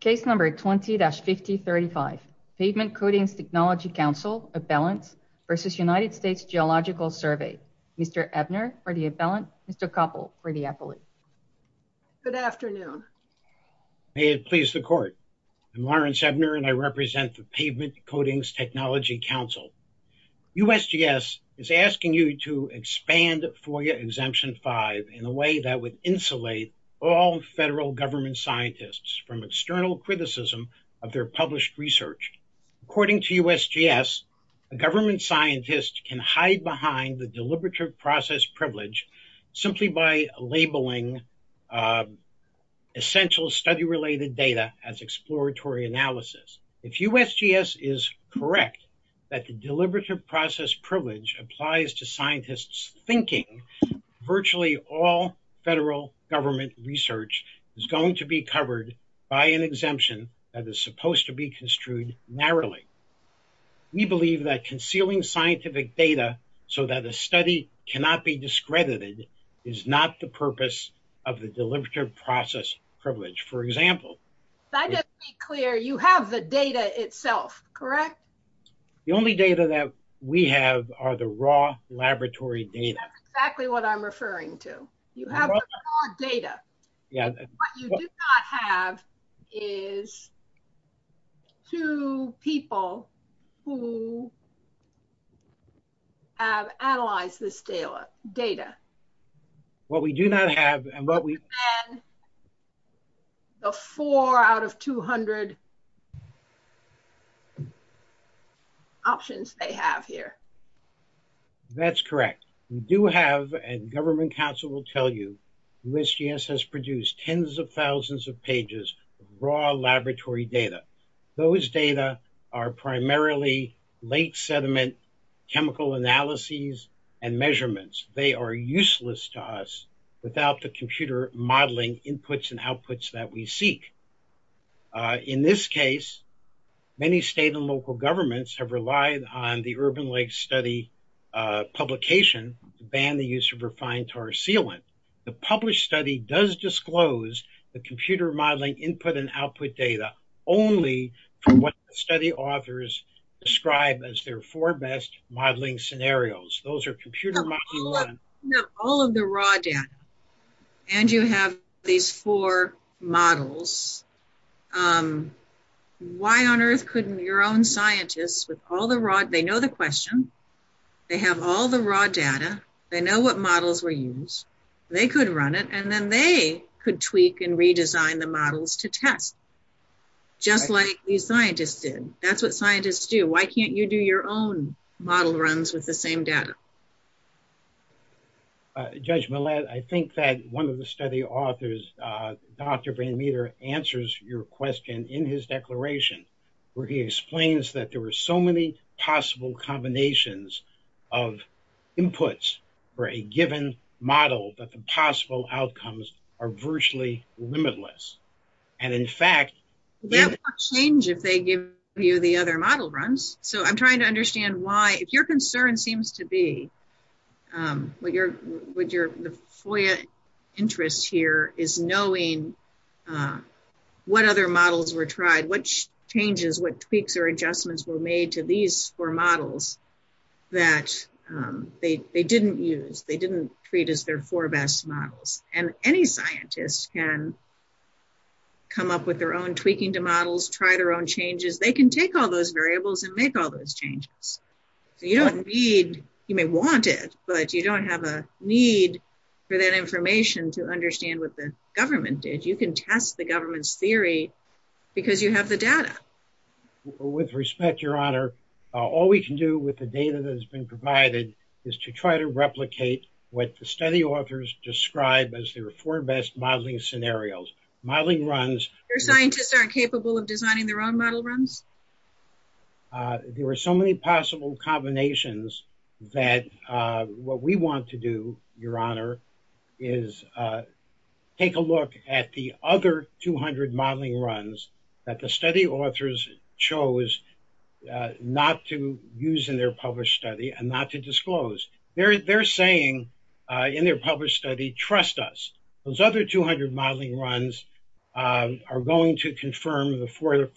Case number 20-5035, Pavement Coatings Technology Council, Abellants v. United States Geological Survey. Mr. Ebner for the Abellant, Mr. Koppel for the Apellate. Good afternoon. May it please the court. I'm Lawrence Ebner and I represent the Pavement Coatings Technology Council. USGS is asking you to expand FOIA Exemption 5 in a way that would insulate all federal government scientists from external criticism of their published research. According to USGS, a government scientist can hide behind the deliberative process privilege simply by labeling essential study-related data as exploratory analysis. If USGS is correct that the deliberative process privilege applies to scientists thinking, virtually all federal government research is going to be covered by an exemption that is supposed to be construed narrowly. We believe that concealing scientific data so that a study cannot be discredited is not the purpose of the deliberative process privilege. For example, I just want to be clear, you have the data itself, correct? The only data that we have are the raw laboratory data. That's exactly what I'm referring to. You have the raw data. What you do not have is two people who have analyzed this data. What we do not have and what we have is the four out of 200 options they have here. That's correct. We do have, and government council will tell you, USGS has produced tens of thousands of pages of raw laboratory data. Those data are primarily late sediment chemical analyses and measurements. They are useless to us without the computer modeling inputs and outputs that we seek. In this case, many state and local governments have relied on the urban lake study publication to ban the use of refined tar sealant. The published study does disclose the computer modeling input and output data only from what the study authors describe as their four best modeling scenarios. Those are computer... All of the raw data, and you have these four models. Why on earth couldn't your own scientists with all the raw, they know the question, they have all the raw data, they know what models were used, they could run it, and then they could tweak and redesign the models to test just like these that's what scientists do. Why can't you do your own model runs with the same data? Judge Millett, I think that one of the study authors, Dr. Van Meter answers your question in his declaration where he explains that there were so many possible combinations of inputs for a given model that the possible outcomes are virtually limitless. And in fact... They give you the other model runs. So I'm trying to understand why, if your concern seems to be the FOIA interest here is knowing what other models were tried, what changes, what tweaks or adjustments were made to these four models that they didn't use, they didn't treat as their four best models. And any scientist can come up with their own tweaking to models, try their own changes, they can take all those variables and make all those changes. So you don't need, you may want it, but you don't have a need for that information to understand what the government did. You can test the government's theory because you have the data. With respect, your honor, all we can do with the data that has been provided is to try to replicate what the study authors describe as their four best modeling scenarios. Modeling runs... Your scientists aren't capable of designing their own model runs? There were so many possible combinations that what we want to do, your honor, is take a look at the other 200 modeling runs that the study authors chose not to use in their published study and not to disclose. They're saying in their published study, trust us, those other 200 modeling runs are going to confirm the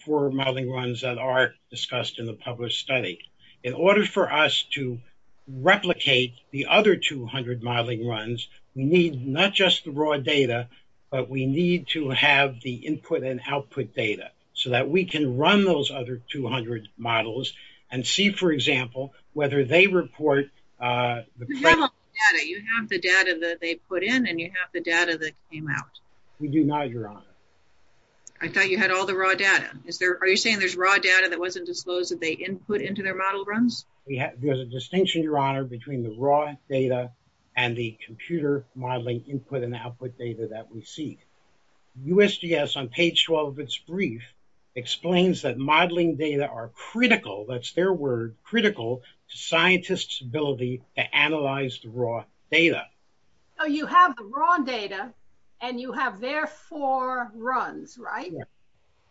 four modeling runs that are discussed in the published study. In order for us to replicate the other 200 modeling runs, we need not just the raw data, but we need to have the input and output data so that we can run those other 200 models and see, for example, whether they report... You have the data that they put in and you have the raw data that came out. We do not, your honor. I thought you had all the raw data. Are you saying there's raw data that wasn't disclosed that they input into their model runs? There's a distinction, your honor, between the raw data and the computer modeling input and output data that we seek. USGS, on page 12 of its brief, explains that modeling data are critical, that's their word, critical to scientists' ability to analyze the raw data. You have the raw data and you have their four runs, right?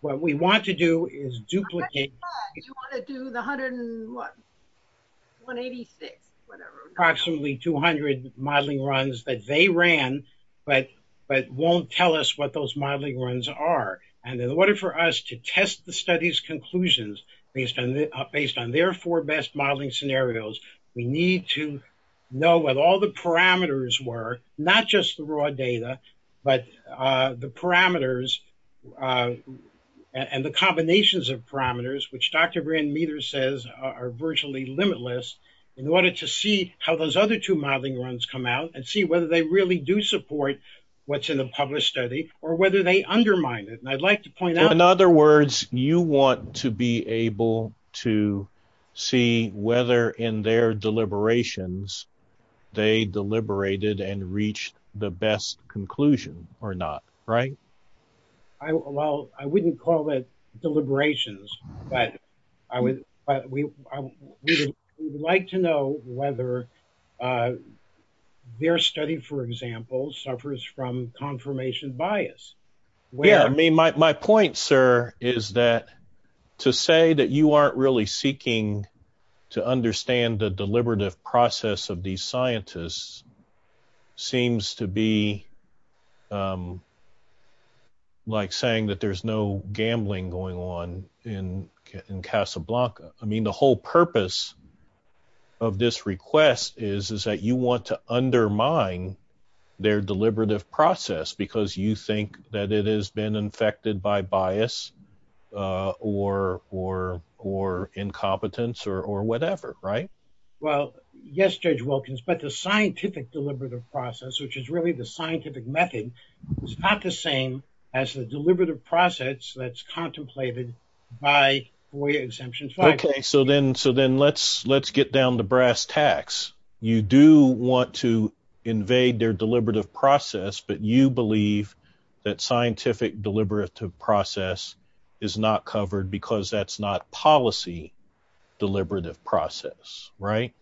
What we want to do is duplicate... You want to do the 186, whatever. Approximately 200 modeling runs that they ran, but won't tell us what those modeling runs are. In order for us to test the study's conclusions based on their four best modeling scenarios, we need to know what all the parameters were, not just the raw data, but the parameters and the combinations of parameters, which Dr. Brand-Meter says are virtually limitless, in order to see how those other two modeling runs come out and see whether they really do support what's in the published study or whether they undermine it. And I'd like to point out... In other words, you want to be able to see whether in their deliberations they deliberated and reached the best conclusion or not, right? Well, I wouldn't call it deliberations, but we would like to know whether their study, for example, suffers from confirmation bias. Yeah, I mean, my point, sir, is that to say that you aren't really seeking to understand the deliberative process of these scientists seems to be like saying that there's no gambling going on in Casablanca. I mean, the whole purpose of this request is that you want to undermine their deliberative process because you think that it has been infected by bias or incompetence or whatever, right? Well, yes, Judge Wilkins, but the scientific deliberative process, which is really the scientific method, is not the same as the deliberative process that's contemplated by FOIA Exemption 5. Okay, so then let's get down to brass tacks. You do want to invade their deliberative process, but you believe that scientific deliberative process is not covered because that's not policy deliberative process, right?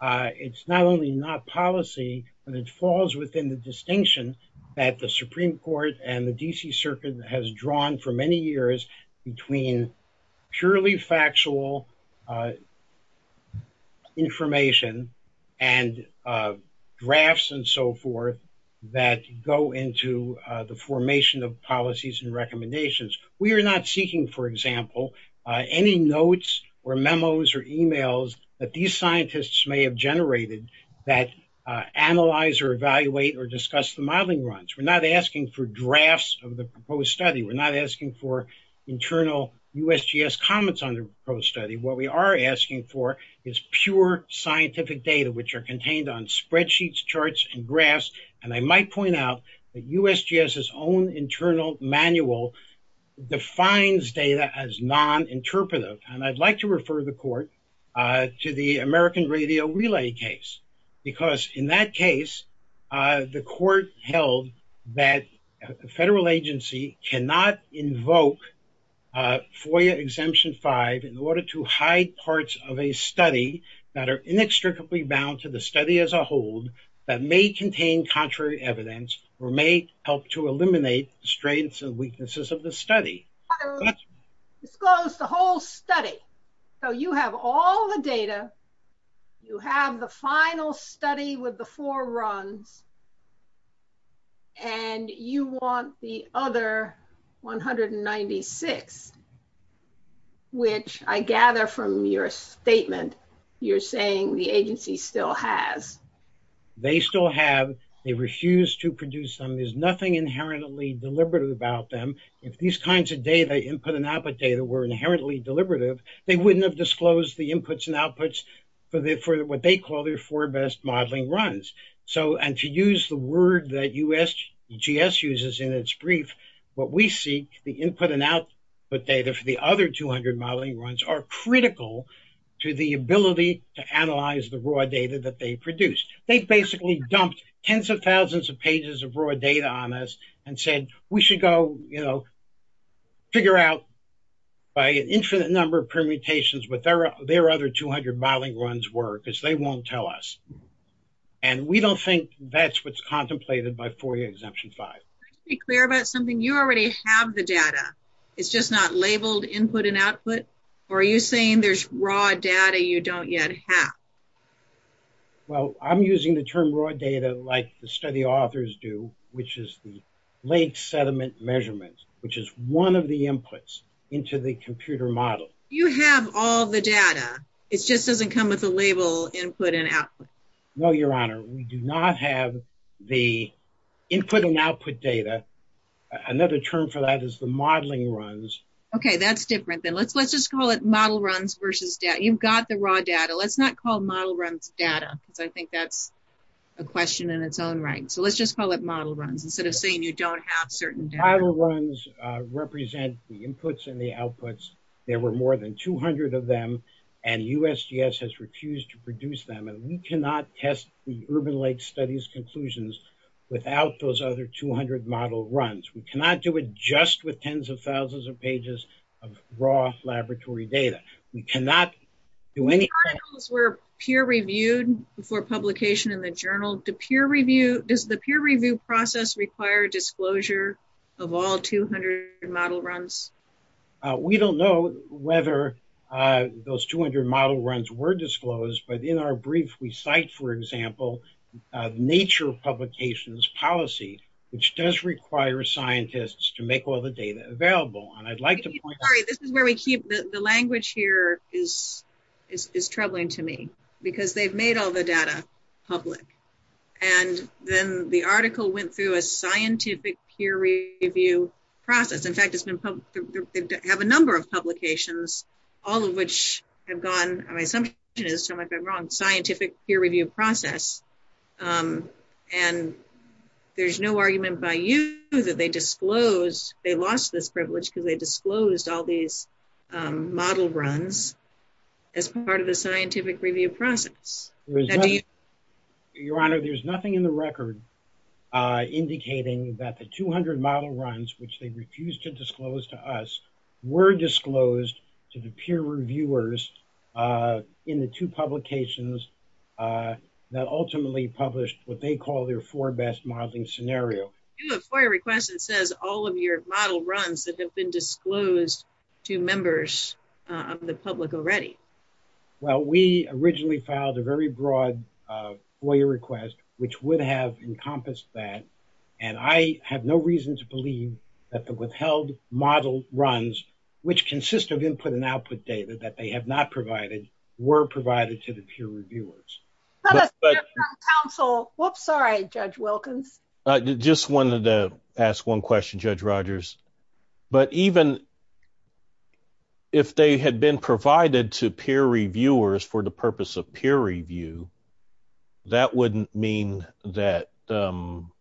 It's not only not policy, but it falls within the distinction that the Supreme Court and the Supreme Court have established between purely factual information and drafts and so forth that go into the formation of policies and recommendations. We are not seeking, for example, any notes or memos or emails that these scientists may have generated that analyze or evaluate or discuss the modeling runs. We're not asking for drafts of the proposed study. We're not asking for internal USGS comments on the proposed study. What we are asking for is pure scientific data, which are contained on spreadsheets, charts, and graphs, and I might point out that USGS's own internal manual defines data as non-interpretative, and I'd like to refer the court to the American Radio Relay case because in that case, the court held that a federal agency cannot invoke FOIA Exemption 5 in order to hide parts of a study that are inextricably bound to the study as a whole that may contain contrary evidence or may help to eliminate the strengths and weaknesses of the study. So, you have all the data, you have the final study with the four runs, and you want the other 196, which I gather from your statement, you're saying the agency still has. They still have. They refuse to produce them. There's nothing inherently deliberative about them. If these kinds of data, input and output data, were inherently deliberative, they wouldn't have disclosed the inputs and outputs for what they call their four best modeling runs. So, and to use the word that USGS uses in its brief, what we seek, the input and output data for the other 200 modeling runs are critical to the ability to analyze the raw data that they produced. They basically dumped tens of thousands of pages of raw data on us and said, we should go, you know, figure out by an infinite number of permutations what their other 200 modeling runs were, because they won't tell us. And we don't think that's what's contemplated by FOIA Exemption 5. Let's be clear about something. You already have the data. It's just not labeled input and output? Or are you saying there's raw data you don't yet have? Well, I'm using the term raw data like the study authors do, which is the lake sediment measurements, which is one of the inputs into the computer model. You have all the data. It just doesn't come with a label input and output. No, Your Honor, we do not have the input and output data. Another term for that is the modeling runs. Okay, that's different than let's let's just call it model runs versus data. You've got the raw data. Let's not call model runs data, because I think that's a question in its own right. So let's just call it model runs instead of saying you don't have certain data. Model runs represent the inputs and the outputs. There were more than 200 of them, and USGS has refused to produce them. And we cannot test the Urban Lake Studies conclusions without those other 200 model runs. We cannot do it just with tens of thousands of pages of raw laboratory data. We cannot do any... Articles were peer reviewed before publication in the journal. Does the peer review process require disclosure of all 200 model runs? We don't know whether those 200 model runs were disclosed, but in our brief we cite, for example, nature publications policy, which does require scientists to make all the data available. And this is where we keep... The language here is troubling to me, because they've made all the data public. And then the article went through a scientific peer review process. In fact, it's been... They have a number of publications, all of which have gone... My assumption is, so I might have been wrong, scientific peer review process. And there's no argument by you that they disclosed... They lost this privilege because they disclosed all these model runs as part of the scientific review process. Your Honor, there's nothing in the record indicating that the 200 model runs, which they refused to disclose to us, were disclosed to the peer reviewers in the two publications that ultimately published what they call their four best modeling scenario. You have FOIA requests that says all of your model runs that have been disclosed to members of the public already. Well, we originally filed a very broad FOIA request, which would have encompassed that. And I have no reason to believe that the withheld model runs, which consist of input and output data that they have not provided, were provided to the ask one question, Judge Rogers. But even if they had been provided to peer reviewers for the purpose of peer review, that wouldn't mean that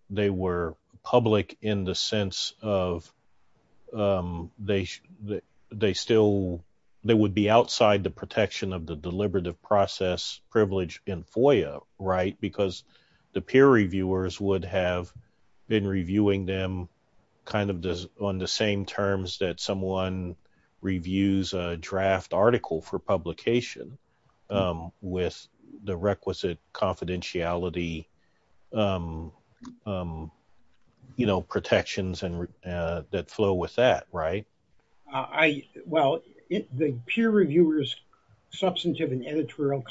they were public in the sense of they still... They would be outside the protection of the deliberative process privilege in FOIA, right? The peer reviewers would have been reviewing them on the same terms that someone reviews a draft article for publication with the requisite confidentiality protections that flow with that, right? Well, the peer reviewers substantive and would be covered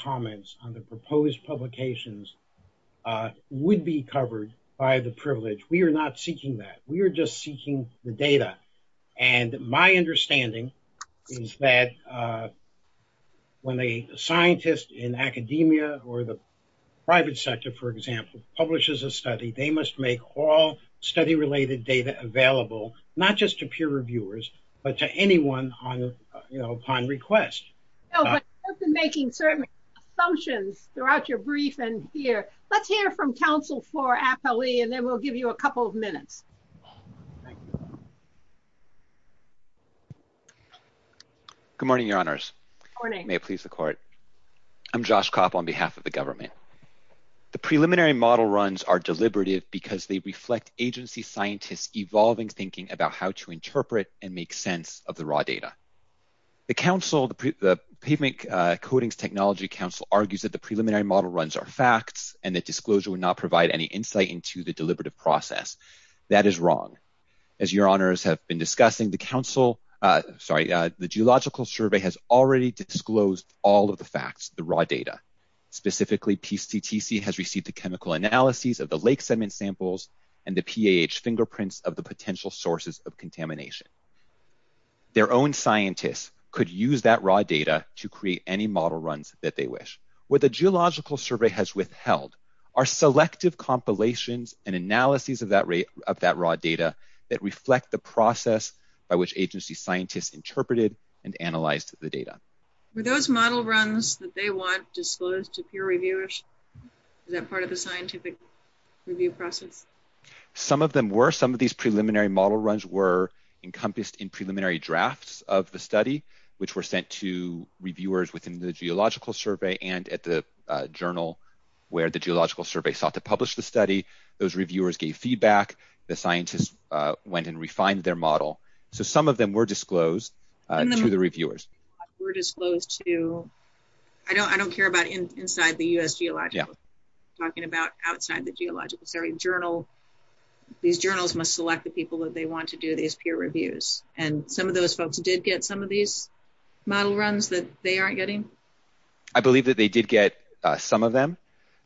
by the privilege. We are not seeking that. We are just seeking the data. And my understanding is that when a scientist in academia or the private sector, for example, publishes a study, they must make all study-related data available, not just to peer reviewers, but to anyone upon request. No, but you have been making certain assumptions throughout your briefing here. Let's hear from counsel for APALE, and then we'll give you a couple of minutes. Good morning, your honors. Good morning. May it please the court. I'm Josh Kopp on behalf of the government. The preliminary model runs are deliberative because they reflect agency scientists evolving thinking about how to interpret and make sense of the raw data. The counsel, the pavement coatings technology council argues that the preliminary model runs are facts and that disclosure would not provide any insight into the deliberative process. That is wrong. As your honors have been discussing the council, sorry, the geological survey has already disclosed all of the facts, the raw data. Specifically, PCTC has received the chemical analyses of the lake sediment samples and the PAH fingerprints of the potential sources of contamination. Their own scientists could use that raw data to create any model runs that they wish. What the geological survey has withheld are selective compilations and analyses of that raw data that reflect the process by which agency scientists interpreted and analyzed the data. Were those model runs that they want disclosed to peer reviewers? Is that part of the scientific review process? Some of them were. Some of these preliminary model runs were encompassed in preliminary drafts of the study, which were sent to reviewers within the geological survey and at the journal where the geological survey sought to publish the study. Those reviewers gave feedback. The scientists went and refined their model. So some of them were disclosed to the reviewers. Were disclosed to, I don't care about inside the U.S. geological, talking about outside the geological survey, journal. These journals must select the people that they want to do these peer reviews. And some of those folks did get some of these model runs that they aren't getting. I believe that they did get some of them.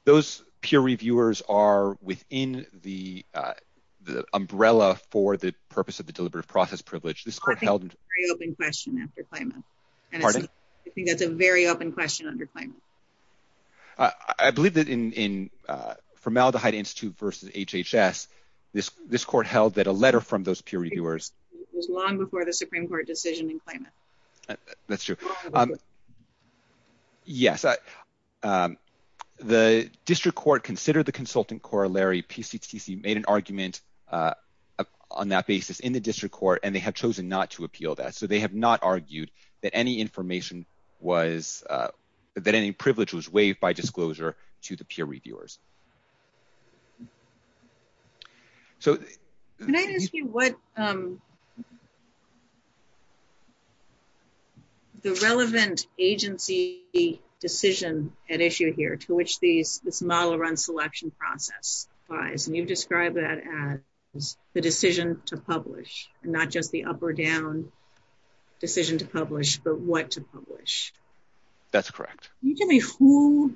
Those peer reviewers are within the umbrella for the purpose of the deliberative process privilege. This court held. I think it's a very open question after Clayman. Pardon? I think that's a very open question under Clayman. I believe that in Formaldehyde Institute versus HHS, this court held that a letter from those peer reviewers. It was long before the Supreme Court decision in Clayman. That's true. Yes. The district court considered the consultant corollary PCTC made an argument on that basis in the district court, and they have chosen not to appeal that. They have not argued that any information was, that any privilege was waived by disclosure to the peer reviewers. Can I ask you what, the relevant agency decision at issue here to which this model run selection process applies, and you've described that as the decision to publish, and not just the up or down decision to publish, but what to publish. That's correct. Can you tell me who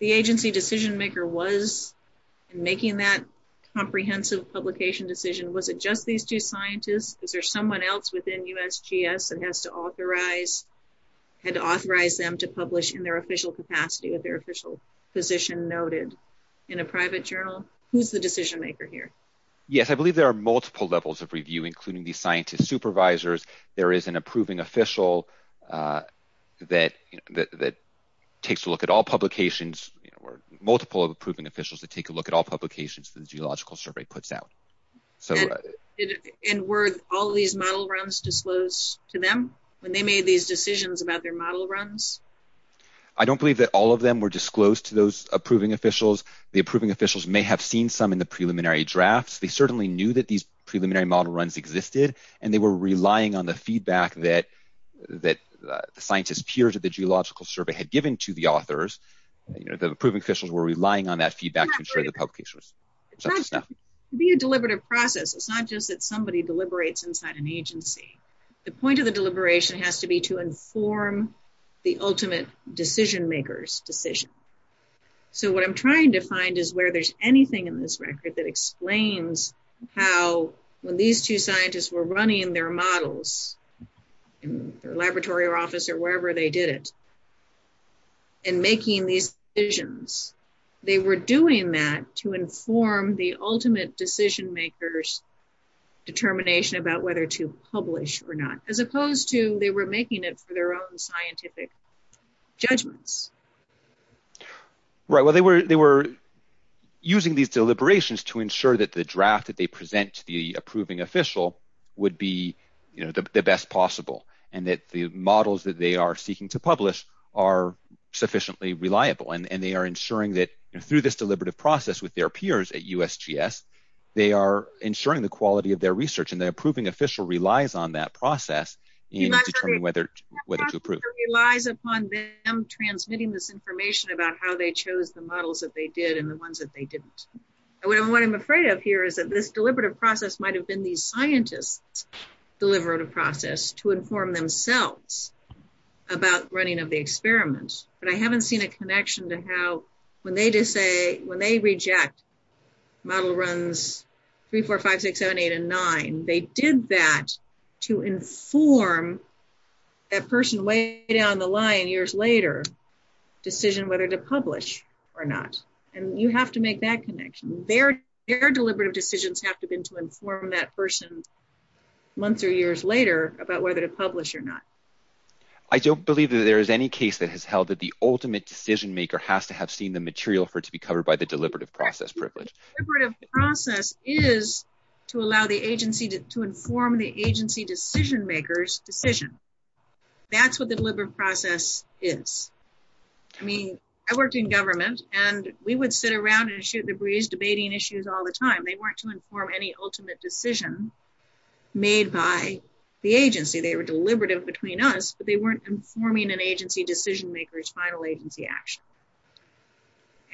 the agency decision maker was in making that comprehensive publication decision? Was it just these two scientists? Is there someone else within USGS that has to authorize, had to authorize them to publish in their official capacity with their official position noted in a private journal? Who's the decision maker here? Yes, I believe there are multiple levels of review, including the scientist supervisors. There is an approving official that takes a look at all publications, or multiple approving officials that take a look at all publications that the geological survey puts out. And were all these model runs disclosed to them when they made these decisions about their model runs? I don't believe that all of them were disclosed to those approving officials. The approving officials may have seen some in the preliminary drafts. They certainly knew that these preliminary model runs existed, and they were relying on the feedback that the scientist peers at the geological survey had given to the authors. The approving officials were relying on that feedback to ensure the publication was... It's not just to be a deliberative process. It's not just that somebody deliberates inside an agency. The point of the deliberation has to be to inform the ultimate decision makers decision. So what I'm trying to find is where there's anything in this record that explains how when these two scientists were running their models in their laboratory or office or wherever they did it, and making these decisions, they were doing that to inform the ultimate decision makers determination about whether to publish or not, as opposed to they were making it for their own scientific judgments. Right. Well, they were using these deliberations to ensure that the draft that they present to the approving official would be the best possible, and that the models that they are seeking to publish are sufficiently reliable, and they are ensuring that through this deliberative process with their peers at USGS, they are ensuring the quality of their research, and the approving official relies on that process in determining whether to approve. It relies upon them transmitting this information about how they chose the models that they did and the ones that they didn't. What I'm afraid of here is that this deliberative process might have been these scientists' deliberative process to inform themselves about running of the experiments. But I haven't seen a connection to how when they just say, when they reject model runs three, four, five, six, seven, eight, and nine, they did that to inform that person way down the line years later, decision whether to publish or not. And you have to make that connection. Their deliberative decisions have to been to inform that person months or years later about whether to publish or not. I don't believe that there is any case that has held that the ultimate decision maker has to have seen the material for it to be covered by the deliberative process privilege. Deliberative process is to allow the agency to inform the agency decision makers decision. That's what the deliberative process is. I mean, I worked in government and we would sit around and shoot the breeze debating issues all the time. They weren't to inform any ultimate decision made by the agency. They were deliberative between us, but they weren't informing an agency decision makers final agency action.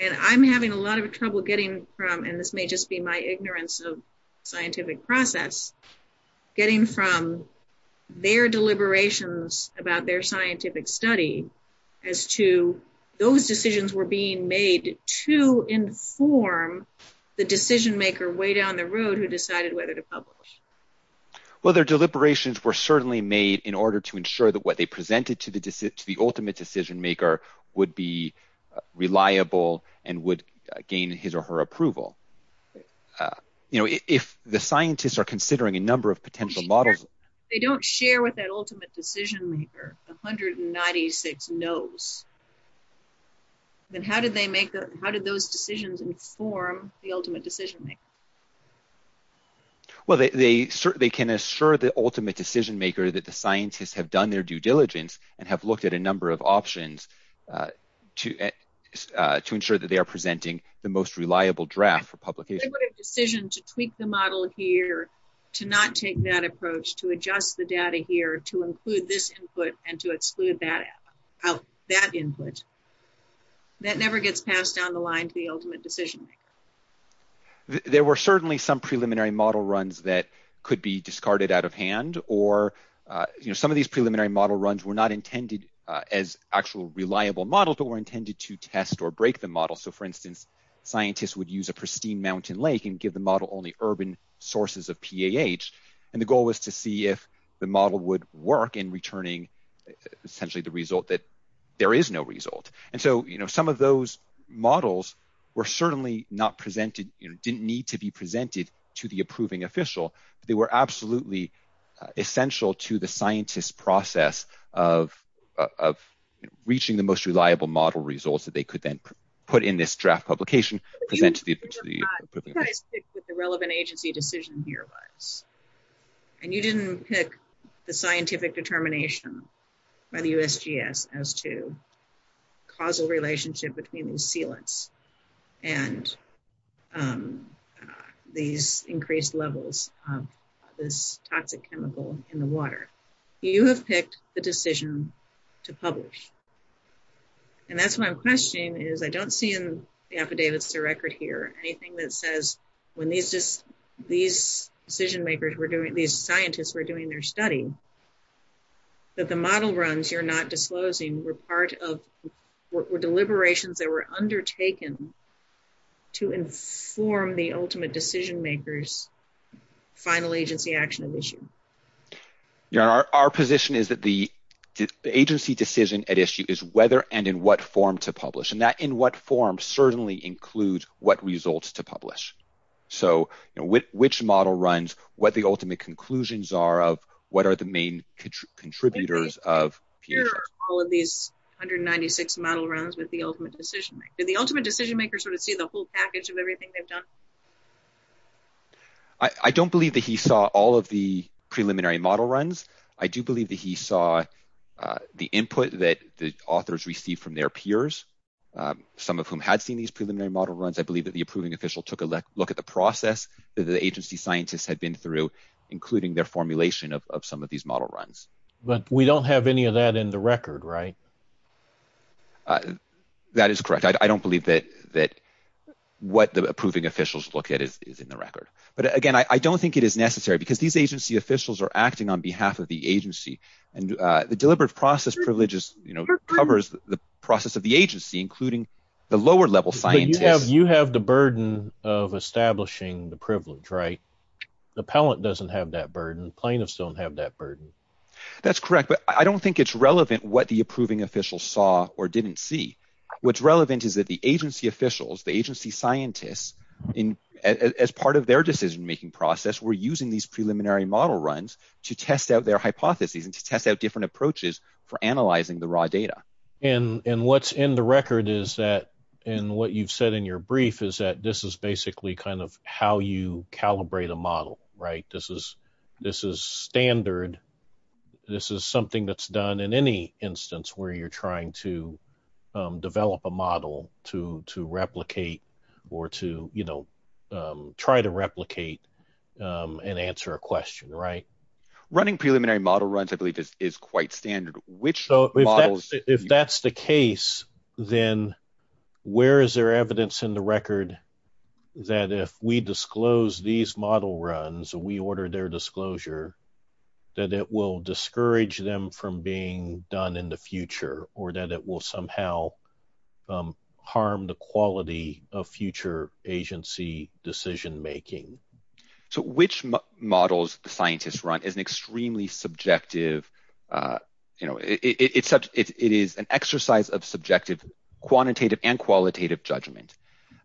And I'm having a lot of trouble getting from, and this may just be my ignorance of scientific process, getting from their deliberations about their scientific study as to those decisions were being made to inform the decision maker way down the road who decided whether to publish. Well, their deliberations were certainly made in order to ensure that what they presented to the ultimate decision maker would be reliable and would gain his or her approval. You know, if the scientists are considering a number of potential models. They don't share with that ultimate decision maker, 196 no's. Then how did they make that? How did those decisions inform the ultimate decision maker? Well, they can assure the ultimate decision maker that the scientists have done their due diligence and have looked at a number of options to ensure that they are presenting the most reliable draft for publication. They would have decision to tweak the model here, to not take that approach, to adjust the data here, to include this input and to exclude that input. That never gets passed down the line to the ultimate decision maker. There were certainly some preliminary model runs that could be discarded out of hand, or some of these preliminary model runs were not intended as actual reliable models, but were intended to test or break the model. So for instance, scientists would use a pristine mountain lake and give the model only urban sources of PAH. And the goal was to see if the model would work in returning essentially the result that there is no result. And so some of those models were certainly not presented, didn't need to be presented to the approving official. They were absolutely essential to the scientist's process of reaching the most reliable model results that they could then put in this draft publication, present to the approving official. You guys picked what the relevant agency decision here was. And you didn't pick the scientific determination by the USGS as to causal relationship between these sealants and these increased levels of this toxic chemical in the water. You have picked the decision to publish. And that's what I'm questioning is I don't see in the affidavits to record here anything that says when these decision makers were doing, these scientists were doing their study, that the model runs you're not disclosing were part of, were deliberations that were undertaken to inform the ultimate decision makers final agency action of issue. Yeah, our position is that the agency decision at issue is whether and in what form to publish. And that in what form certainly includes what results to publish. So which model runs, what the ultimate conclusions are of, what are the main contributors of PAH. All of these 196 model runs with the ultimate decision. Did the ultimate decision maker sort of see the whole package of everything they've done? I don't believe that he saw all of the preliminary model runs. I do believe that he saw the input that the authors received from their peers, some of whom had seen these preliminary model runs. I believe that the approving official took a look at the process that the agency scientists had been through, including their formulation of some of these model runs. But we don't have any of that in the record, right? That is correct. I don't believe that what the approving officials look at is in the record. But again, I don't think it is necessary because these agency officials are acting on behalf of the agency. And the deliberate process privileges, you know, covers the process of the agency, including the lower level scientists. You have the burden of establishing the privilege, right? The appellant doesn't have that burden. Plaintiffs don't have that burden. That's correct, but I don't think it's relevant what the approving officials saw or didn't see. What's relevant is that the agency officials, the agency scientists, as part of their decision-making process, were using these preliminary model runs to test out their hypotheses and to test out different approaches for analyzing the raw data. And what's in the record is that, and what you've said in your brief, is that this is basically kind of how you calibrate a model, right? This is standard. This is something that's done in any instance where you're trying to develop a model to replicate or to, you know, try to replicate and answer a question, right? Running preliminary model runs, I believe, is quite standard. If that's the case, then where is there evidence in the record that if we disclose these model runs, we order their disclosure, that it will discourage them from being done in the future or that it will somehow harm the quality of future agency decision-making? So which models the scientists run is an extremely subjective, you know, it is an exercise of subjective, quantitative, and qualitative judgment.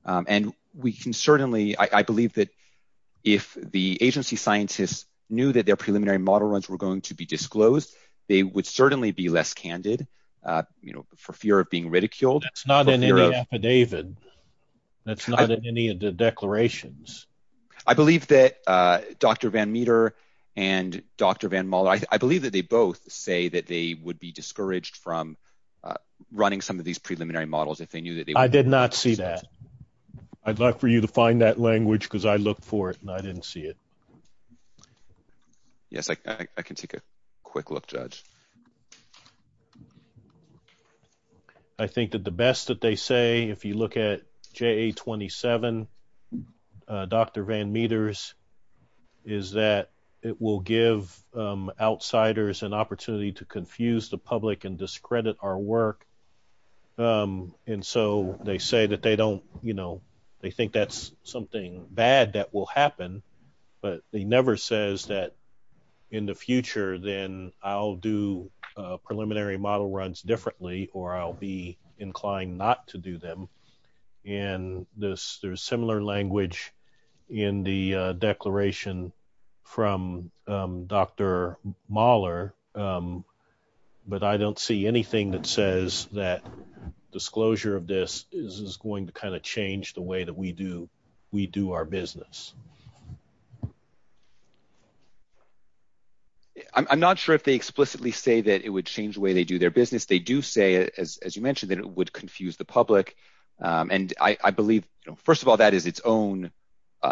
And we can certainly, I believe that if the agency scientists knew that their preliminary model runs were going to be disclosed, they would certainly be less candid, you know, for fear of being ridiculed. That's not in any affidavit. That's not in any of the declarations. I believe that Dr. Van Meter and Dr. Van Moller, I believe that they both say that they would be discouraged from running some of these preliminary models I did not see that. I'd like for you to find that language because I looked for it and I didn't see it. Yes, I can take a quick look, Judge. I think that the best that they say, if you look at JA-27, Dr. Van Meter's is that it will give outsiders an opportunity to confuse the public and discredit our work. And so they say that they don't, you know, they think that's something bad that will happen, but they never says that in the future, then I'll do preliminary model runs differently or I'll be inclined not to do them. And there's similar language in the declaration from Dr. Moller, but I don't see anything that says that disclosure of this is going to kind of change the way that we do our business. I'm not sure if they explicitly say that it would change the way they do their business. They do say, as you mentioned, that it would confuse the public. And I believe, first of all, that is its own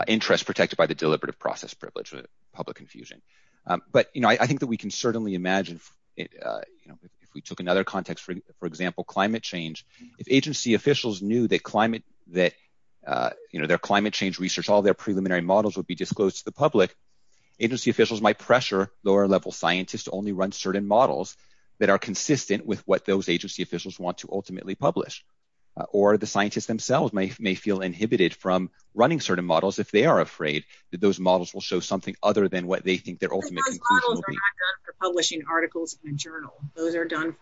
interest protected by the deliberative process privilege with public confusion. But I think that we can certainly imagine, if we took another context, for example, climate change, if agency officials knew that their climate change research, all their preliminary models would be disclosed to the public, agency officials might pressure lower level scientists to only run certain models that are consistent with what those agency officials want to ultimately publish. Or the scientists themselves may feel inhibited from running certain models if they are afraid that those models will show something other than what they think their ultimate conclusion will be. Those models are not done for publishing articles in a journal. Those are done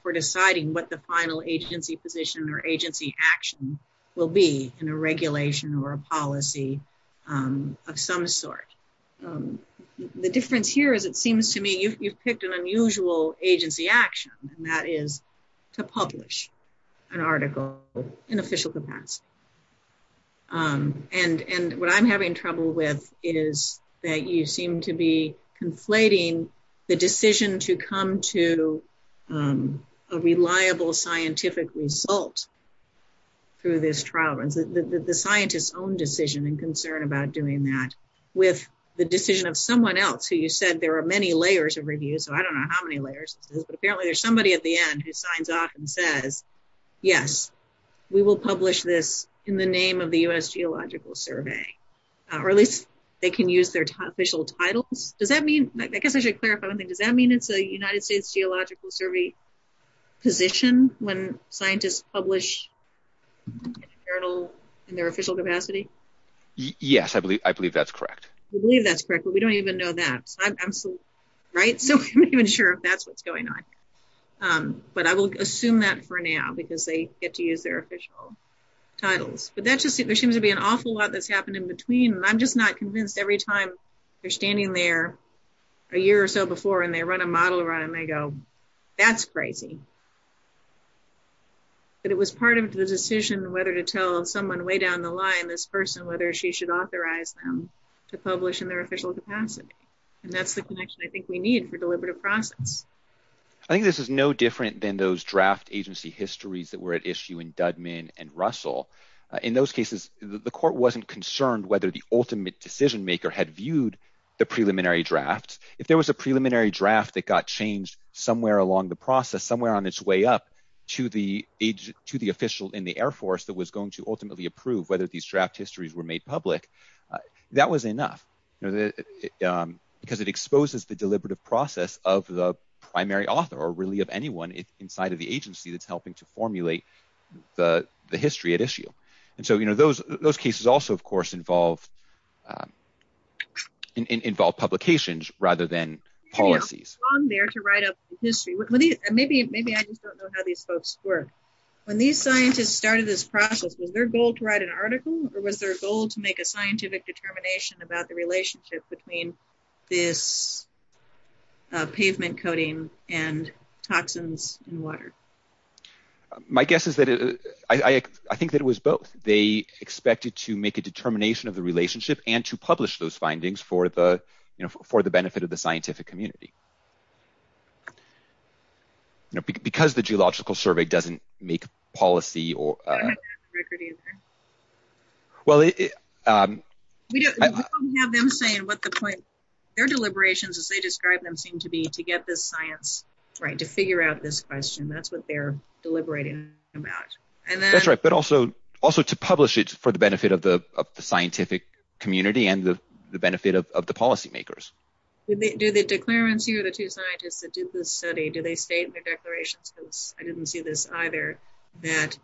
for deciding what the final agency position or agency action will be in a regulation or a policy of some sort. The difference here is it seems to me you've picked an unusual agency action, and that is to publish an article in official capacity. And what I'm having trouble with is that you seem to be conflating the decision to come to a reliable scientific result through this trial runs, the scientists' own decision and concern about doing that with the decision of someone else who you said there are many layers of review, so I don't know how many layers this is, but apparently there's somebody at the end who signs off and says, yes, we will publish this in the name of the U.S. Geological Survey, or at least they can use their official titles. Does that mean, I guess I should clarify one thing, does that mean it's a United States Geological Survey position when scientists publish in a journal in their official capacity? Yes, I believe that's correct. We believe that's correct, but we don't even know that, right? So I'm not even sure if that's what's going on. But I will assume that for now, because they get to use their official titles. But that just seems to be an awful lot that's happened in between, and I'm just not convinced every time they're standing there a year or so before and they run a model run and they go, that's crazy. But it was part of the decision whether to tell someone way down the line, this person, whether she should authorize them to publish in their official capacity. And that's the connection I think we need for deliberative process. I think this is no different than those draft agency histories that were at issue in Dudman and Russell. In those cases, the court wasn't concerned whether the ultimate decision maker had viewed the preliminary draft. If there was a preliminary draft that got changed somewhere along the process, somewhere on its way up to the official in the Air Force that was going to ultimately approve whether these draft histories were made public, that was enough. You know, because it exposes the deliberative process of the primary author or really of anyone inside of the agency that's helping to formulate the history at issue. And so, you know, those cases also, of course, involve publications rather than policies. Maybe I just don't know how these folks work. When these scientists started this process, was their goal to write an article or was their goal to make a scientific determination about the relationship between this pavement coating and toxins in water? My guess is that it, I think that it was both. They expected to make a determination of the relationship and to publish those findings for the, you know, for the benefit of the scientific community. Because the geological survey doesn't make policy or... I don't have that record either. We don't have them saying what the point... Their deliberations, as they describe them, seem to be to get this science right, to figure out this question. That's what they're deliberating about. That's right. But also to publish it for the benefit of the scientific community and the benefit of the policy makers. Do the declarants here, the two scientists that did this study, do they state in their declarations, because I didn't see this either, that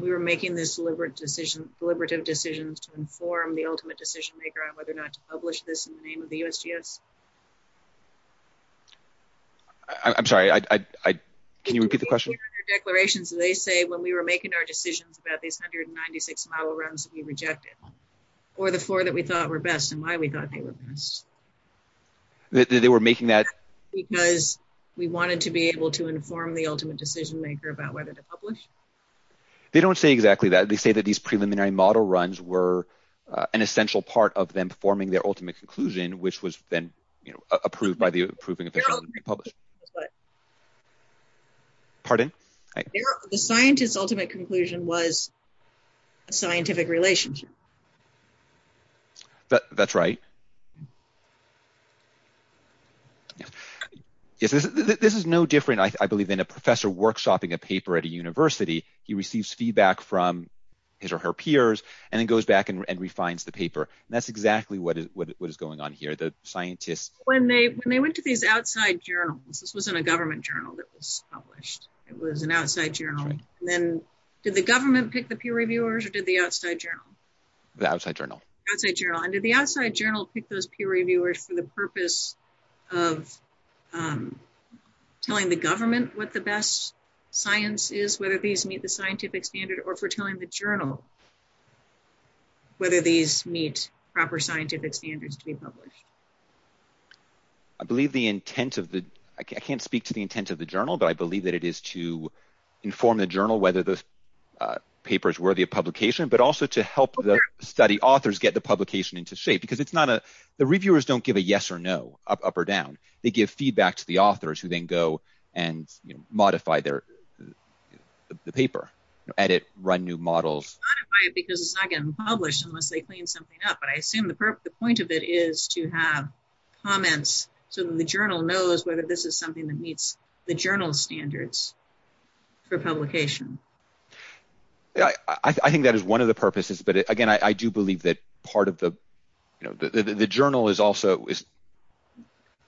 we were making this deliberate decision, deliberative decisions to inform the ultimate decision maker on whether or not to publish this in the name of the USGS? I'm sorry, can you repeat the question? In their declarations, they say when we were making our decisions about these 196 model runs that we rejected or the four that we thought were best and why we thought they were best. They were making that... Because we wanted to be able to inform the ultimate decision maker about whether to publish. They don't say exactly that. They say that these preliminary model runs were an essential part of them performing their ultimate conclusion, which was then approved by the approving official to be published. Pardon? The scientist's ultimate conclusion was a scientific relationship. That's right. Yeah. This is no different, I believe, than a professor workshopping a paper at a university. He receives feedback from his or her peers and then goes back and refines the paper. That's exactly what is going on here. The scientists... When they went to these outside journals, this wasn't a government journal that was published. It was an outside journal. Then did the government pick the peer reviewers or did the outside journal? The outside journal. Outside journal. And did the outside journal pick those peer reviewers for the purpose of telling the government what the best science is, whether these meet the scientific standard or for telling the journal whether these meet proper scientific standards to be published? I believe the intent of the... I can't speak to the intent of the journal, but I believe that it is to inform the journal whether the paper is worthy of publication, but also to help the study authors get the publication into shape. Because it's not a... The reviewers don't give a yes or no, up or down. They give feedback to the authors who then go and modify the paper, edit, run new models. They modify it because it's not getting published unless they clean something up. But I assume the point of it is to have comments so that the journal knows whether this is something that meets the journal standards for publication. I think that is one of the purposes. But again, I do believe that part of the... The journal is also...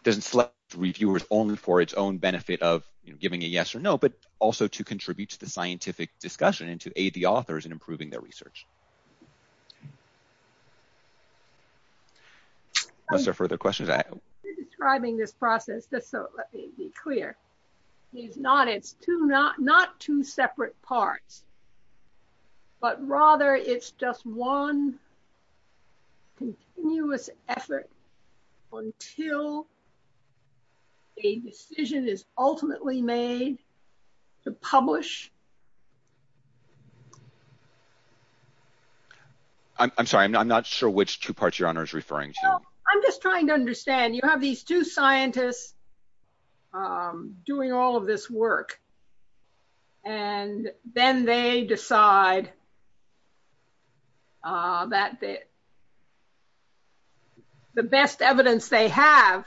Doesn't select the reviewers only for its own benefit of giving a yes or no, but also to contribute to the scientific discussion and to aid the authors in improving their research. Unless there are further questions I have. You're describing this process, just so let me be clear. It's not two separate parts, but rather it's just one continuous effort until a decision is ultimately made to publish. I'm sorry, I'm not sure which two parts you're referring to. I'm just trying to understand. You have these two scientists doing all of this work and then they decide the best evidence they have,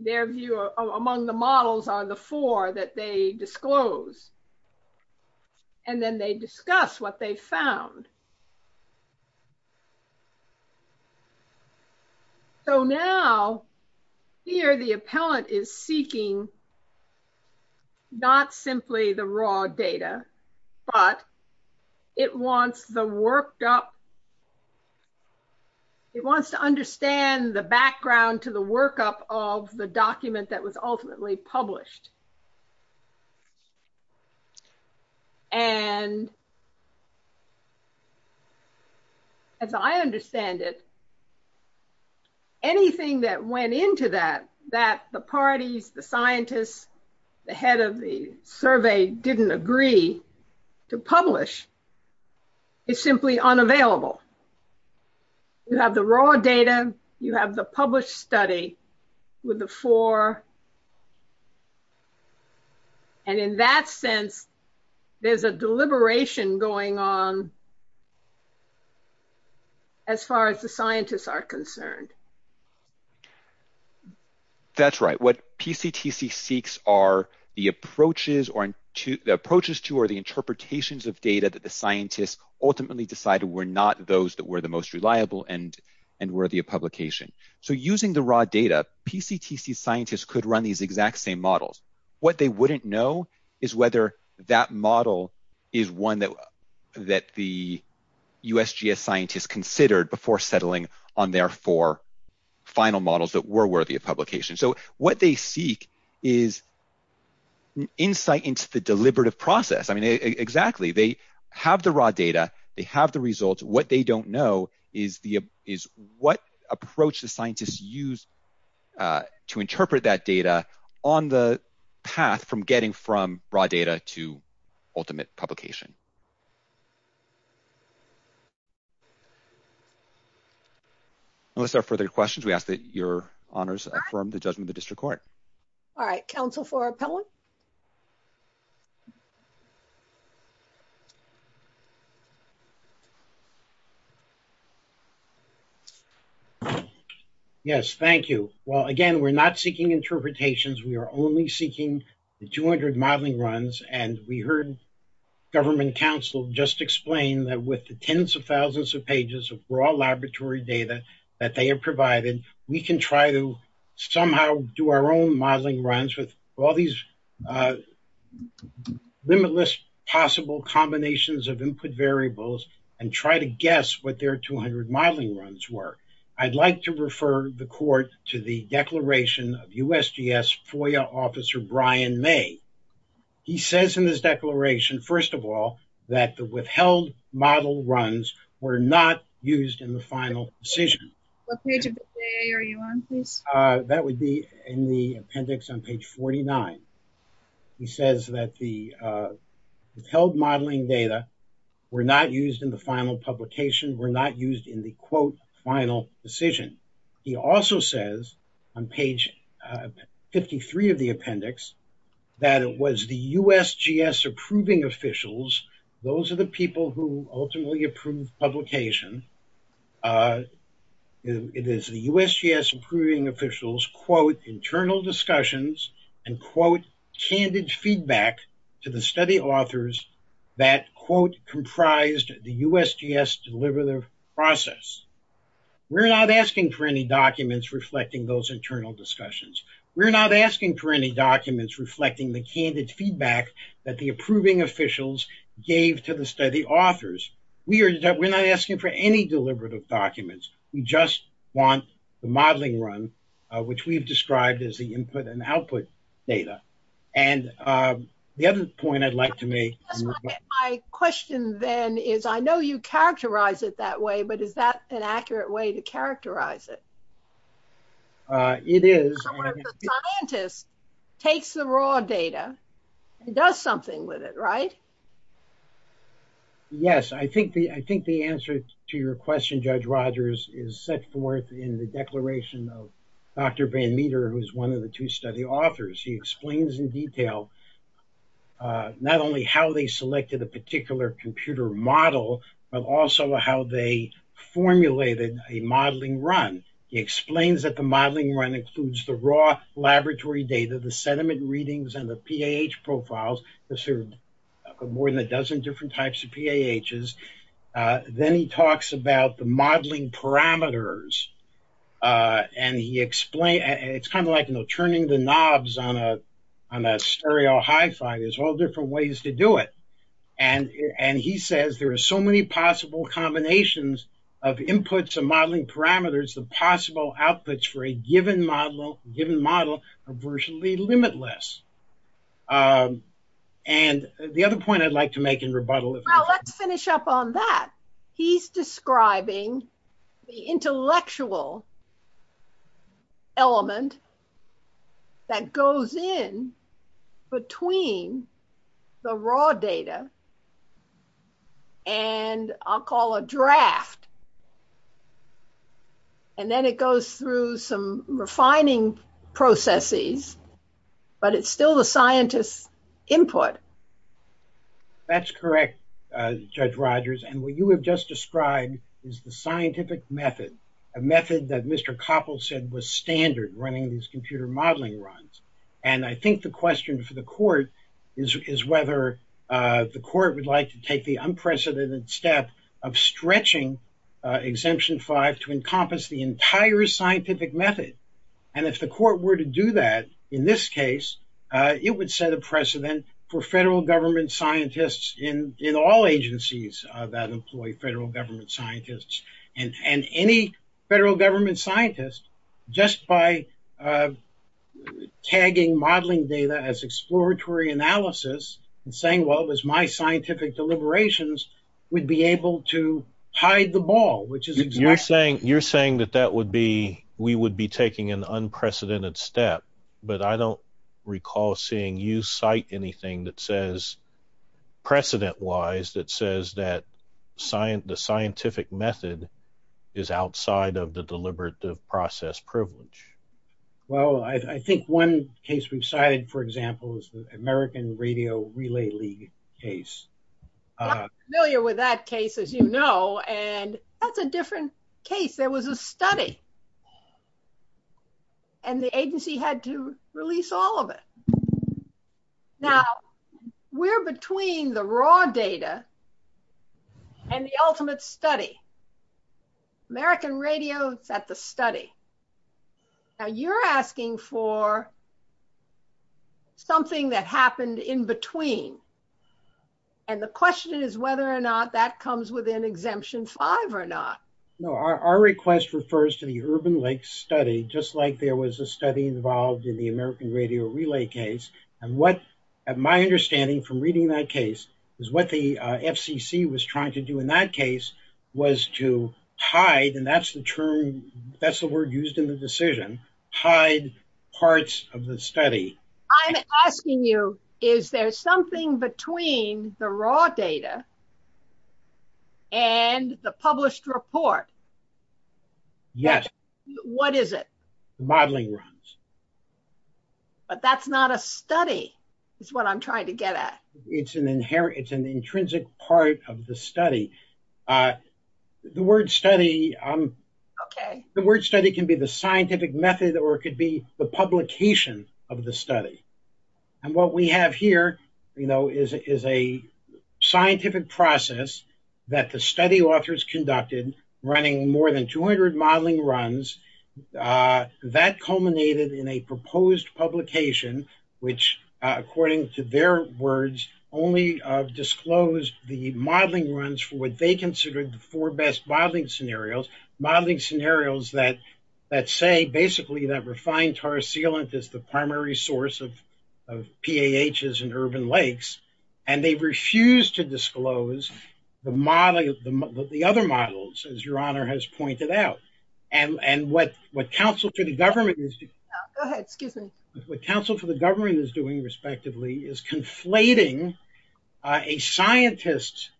their view among the models are the four that they disclose. And then they discuss what they found. So now here, the appellant is seeking not simply the raw data, but it wants the worked up... It wants to understand the background to the workup of the document that was ultimately published. And it wants to understand that as I understand it, anything that went into that, that the parties, the scientists, the head of the survey didn't agree to publish is simply unavailable. You have the raw data, you have the published study with the four. And in that sense, there's a deliberation going on as far as the scientists are concerned. That's right. What PCTC seeks are the approaches or the approaches to or the interpretations of data that the scientists ultimately decided were not those that were the most reliable and worthy of publication. So using the raw data, PCTC scientists could run these exact same models. What they wouldn't know is whether that model is one that the USGS scientists considered before settling on their four final models that were worthy of publication. So what they seek is insight into the deliberative process. I mean, exactly. They have the raw data, they have the results. What they don't know is what approach the scientists use to interpret that data on the path from getting from raw data to ultimate publication. Unless there are further questions, we ask that your honors affirm the judgment of the district court. All right, counsel for appellant. Yes, thank you. Well, again, we're not seeking interpretations. We are only seeking the 200 modeling runs and we heard government counsel just explain that with the tens of thousands of pages of raw laboratory data that they have provided, we can try to somehow do our own modeling runs with all these limitless possible combinations of input variables and try to guess what their 200 modeling runs were. I'd like to refer the court to the declaration of USGS FOIA officer Brian May. He says in this declaration, first of all, that the withheld model runs were not used in the final decision. What page of the FOIA are you on, please? That would be in the appendix on page 49. He says that the withheld modeling data were not used in the final publication, were not used in the quote final decision. He also says on page 53 of the appendix that it was the USGS approving officials. Those are the people who ultimately approve publication. It is the USGS approving officials quote internal discussions and quote candid feedback to the study authors that quote comprised the USGS deliberative process. We're not asking for any documents reflecting those internal discussions. We're not asking for any documents reflecting the candid feedback that the approving officials gave to the study authors. We're not asking for any deliberative documents. We just want the modeling run, which we've described as the input and output data. And the other point I'd like to make. My question then is, I know you characterize it that way, but is that an accurate way to characterize it? It is. So the scientist takes the raw data and does something with it, right? Yes, I think the answer to your question, Judge Rogers, is set forth in the declaration of Dr. Van Meter, who's one of the two study authors. He explains in detail not only how they selected a particular computer model, but also how they formulated a modeling run. He explains that the modeling run includes the raw laboratory data, the sediment readings and the PAH profiles. There's more than a dozen different types of PAHs. Then he talks about the modeling parameters. And he explained, it's kind of like, you know, turning the knobs on a stereo hi-fi. There's all different ways to do it. And he says there are so many possible combinations of inputs and modeling parameters the possible outputs for a given model are virtually limitless. And the other point I'd like to make in rebuttal. Well, let's finish up on that. He's describing the intellectual element that goes in between the raw data and I'll call a draft and then it goes through some refining processes, but it's still the scientist's input. That's correct, Judge Rogers. And what you have just described is the scientific method, a method that Mr. Koppel said was standard running these computer modeling runs. And I think the question for the court is whether the court would like to take the unprecedented step of stretching Exemption 5 to encompass the entire scientific method. And if the court were to do that, in this case, it would set a precedent for federal government scientists in all agencies that employ federal government scientists and any federal government scientist just by tagging modeling data as exploratory analysis and saying, well, it was my scientific deliberations would be able to hide the ball, which is you're saying that we would be taking an unprecedented step, but I don't recall seeing you cite anything that says precedent-wise that says that the scientific method is outside of the deliberative process privilege. Well, I think one case we've cited, for example, is the American Radio Relay League case. I'm familiar with that case, as you know, and that's a different case. There was a study and the agency had to release all of it. Now, we're between the raw data and the ultimate study. American Radio is at the study. Now, you're asking for something that happened in between. And the question is whether or not that comes within Exemption 5 or not. No, our request refers to the Urban Lakes study, just like there was a study involved in the American Radio Relay case. And my understanding from reading that case is what the FCC was trying to do in that case was to hide, and that's the term, that's the word used in the decision, hide parts of the study. I'm asking you, is there something between the raw data and the published report? Yes. What is it? Modeling runs. But that's not a study, is what I'm trying to get at. It's an inherent, it's an intrinsic part of the study. The word study, the word study can be the scientific method or it could be the publication of the study. And what we have here, is a scientific process that the study authors conducted running more than 200 modeling runs. That culminated in a proposed publication, which according to their words, only disclosed the modeling runs for what they considered the four best modeling scenarios. Modeling scenarios that say basically that refined tar sealant is the primary source of PAHs in urban lakes. And they refuse to disclose the other models, as your honor has pointed out. And what Council for the Government is doing, respectively, is conflating a scientist's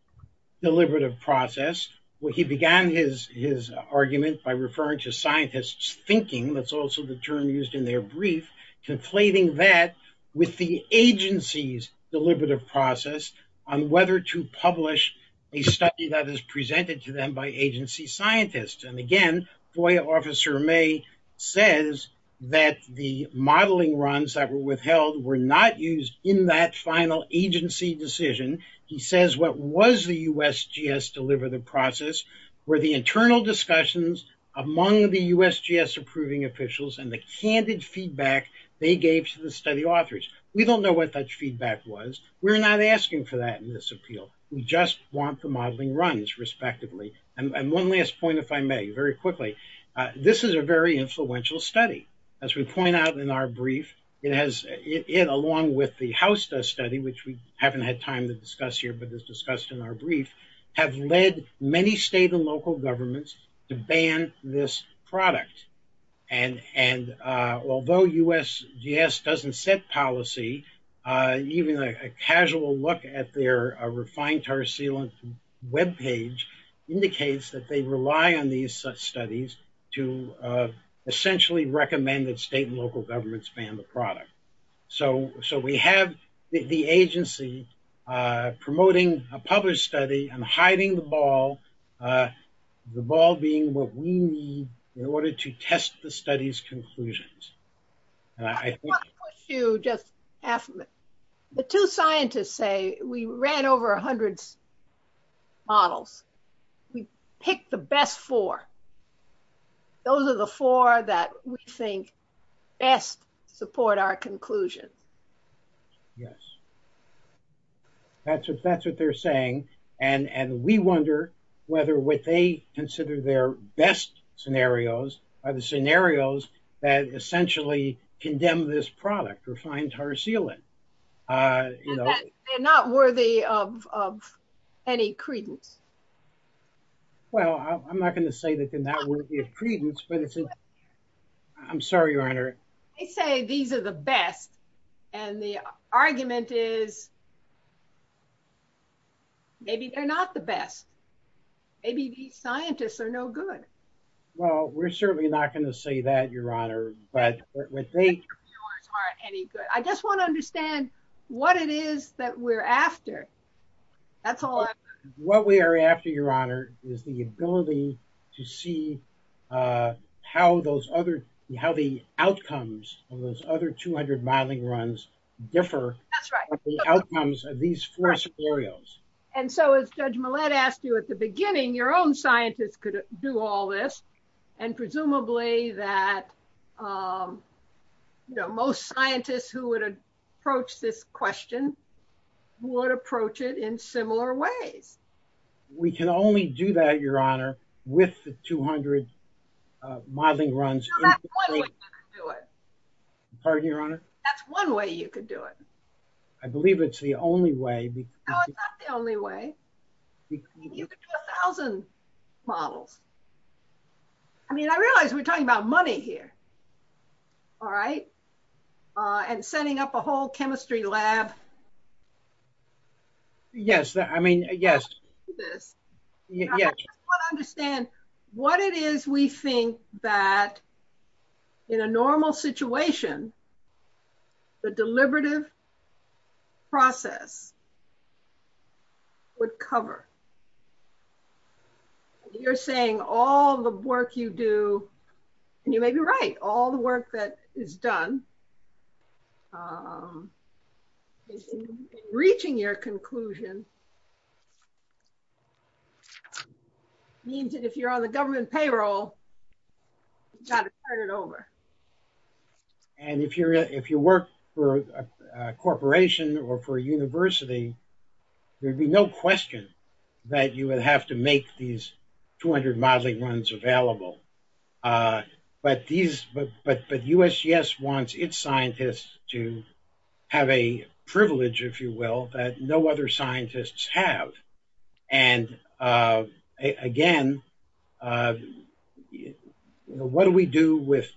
deliberative process, where he began his argument by referring to scientists thinking, that's also the term used in their brief, conflating that with the agency's deliberative process on whether to publish a study that is presented to them by agency scientists. And again, FOIA Officer May says that the modeling runs that were withheld were not used in that final agency decision. He says, what was the USGS deliberative process were the internal discussions among the USGS approving officials and the candid feedback they gave to the study authors? We don't know what that feedback was. We're not asking for that in this appeal. We just want the modeling runs, respectively. And one last point, if I may, very quickly. This is a very influential study. As we point out in our brief, it has, along with the HAUSDA study, which we haven't had time to discuss here, but it's discussed in our brief, have led many state and local governments to ban this product. And although USGS doesn't set policy, even a casual look at their refined tar sealant web page indicates that they rely on these studies to essentially recommend that state and local governments ban the product. So we have the agency promoting a published study and hiding the ball, the ball being what we need in order to test the study's conclusions. And I think... I want to push you just half a minute. The two scientists say we ran over a hundred models. We picked the best four. Those are the four that we think best support our conclusions. Yes. That's what they're saying. And we wonder whether what they consider their best scenarios are the scenarios that essentially condemn this product refined tar sealant. They're not worthy of any credence. Well, I'm not going to say that they're not worthy of credence, but it's... I'm sorry, Your Honor. They say these are the best and the argument is maybe they're not the best. Maybe these scientists are no good. Well, we're certainly not going to say that, Your Honor, but what they... I just want to understand what it is that we're after. That's all I... What we are after, Your Honor, is the ability to see how those other... how the outcomes of those other 200 modeling runs differ from the outcomes of these four scenarios. And so as Judge Millett asked you at the beginning, your own scientists could do all this and presumably that most scientists who would approach this question would approach it in similar ways. We can only do that, Your Honor, with the 200 modeling runs. No, that's one way you could do it. Pardon me, Your Honor? That's one way you could do it. I believe it's the only way. No, it's not the only way. You could do a thousand models. I mean, I realize we're talking about money here. All right. And setting up a whole chemistry lab. Yes, I mean, yes. I want to understand what it is we think that in a normal situation, the deliberative process would cover. You're saying all the work you do, and you may be right, all the work that is done in reaching your conclusion means that if you're on the government payroll, you've got to turn it over. And if you're if you work for a corporation or for a university, there'd be no question that you would have to make these 200 modeling runs available. But these, but USGS wants its scientists to have a privilege, if you will, that no other scientists have. And again, what do we do with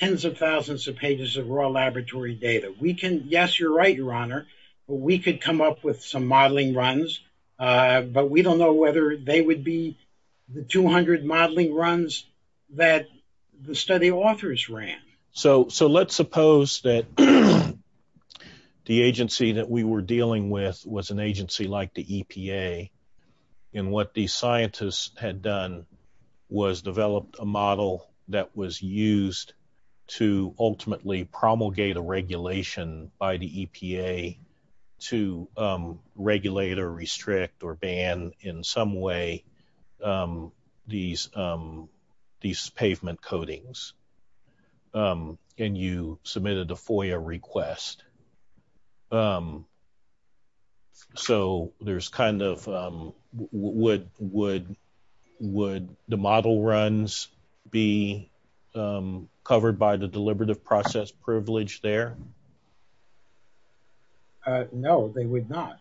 of raw laboratory data? We can, yes, you're right, Your Honor. We could come up with some modeling runs, but we don't know whether they would be the 200 modeling runs that the study authors ran. So let's suppose that the agency that we were dealing with was an agency like the EPA. And what the scientists had done was developed a model that was used to ultimately promulgate a regulation by the EPA to regulate or restrict or ban in some way these pavement coatings. And you submitted a FOIA request. So there's kind of would the model runs be covered by the deliberative process privilege there? No, they would not.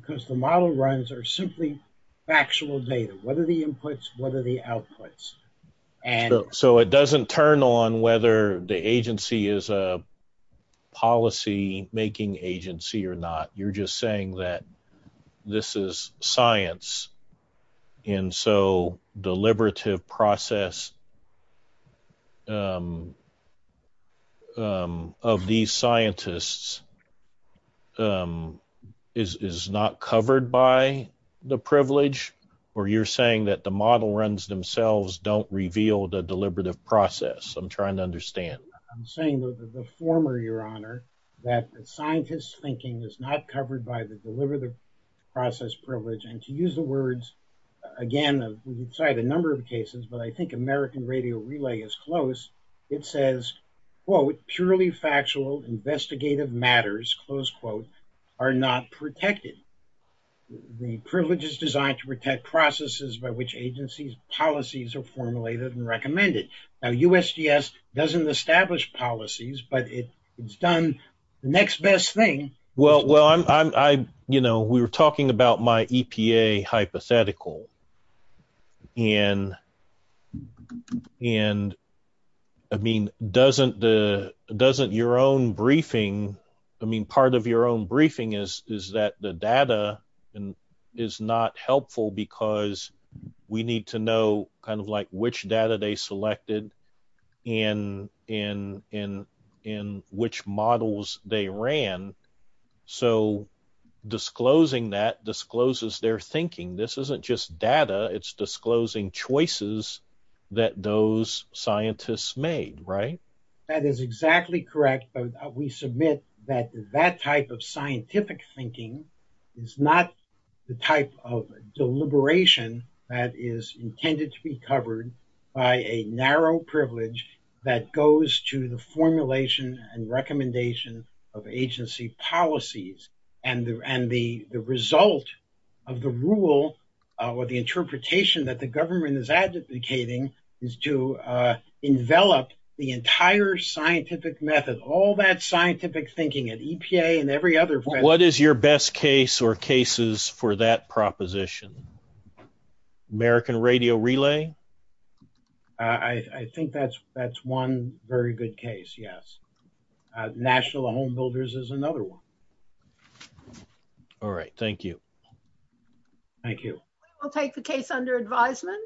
Because the model runs are simply factual data. What are the inputs? What are the outputs? And so it doesn't turn on whether the agency is a policy making agency or not. You're just saying that this is science. And so deliberative process of these scientists is not covered by the privilege. Or you're saying that the model runs themselves don't reveal the deliberative process. I'm trying to understand. I'm saying the former, Your Honor, that scientists thinking is not covered by the deliberative process privilege. And to use the words, again, we've cited a number of cases, but I think American Radio Relay is close. It says, quote, purely factual investigative matters, close quote, are not protected. The privilege is designed to protect processes by which agencies policies are formulated and recommended. Now, USGS doesn't establish policies, but it's done the next best thing. Well, well, I'm I, you know, we were talking about my EPA hypothetical. And and I mean, doesn't the doesn't your own briefing? I mean, part of your own briefing is, is that the data and is not helpful because we need to know kind of like which data they selected in in in in which models they ran. So disclosing that discloses their thinking. This isn't just data. It's disclosing choices that those scientists made, right? That is exactly correct. We submit that that type of scientific thinking is not the type of deliberation that is intended to be covered by a narrow privilege that goes to the formulation and recommendation of agency policies. And and the result of the rule or the interpretation that the government is advocating is to envelop the entire scientific method, all that scientific thinking at EPA and every other. What is your best case or cases for that proposition? American Radio Relay. I think that's that's one very good case, yes. National Home Builders is another one. All right, thank you. Thank you. We'll take the case under advisement.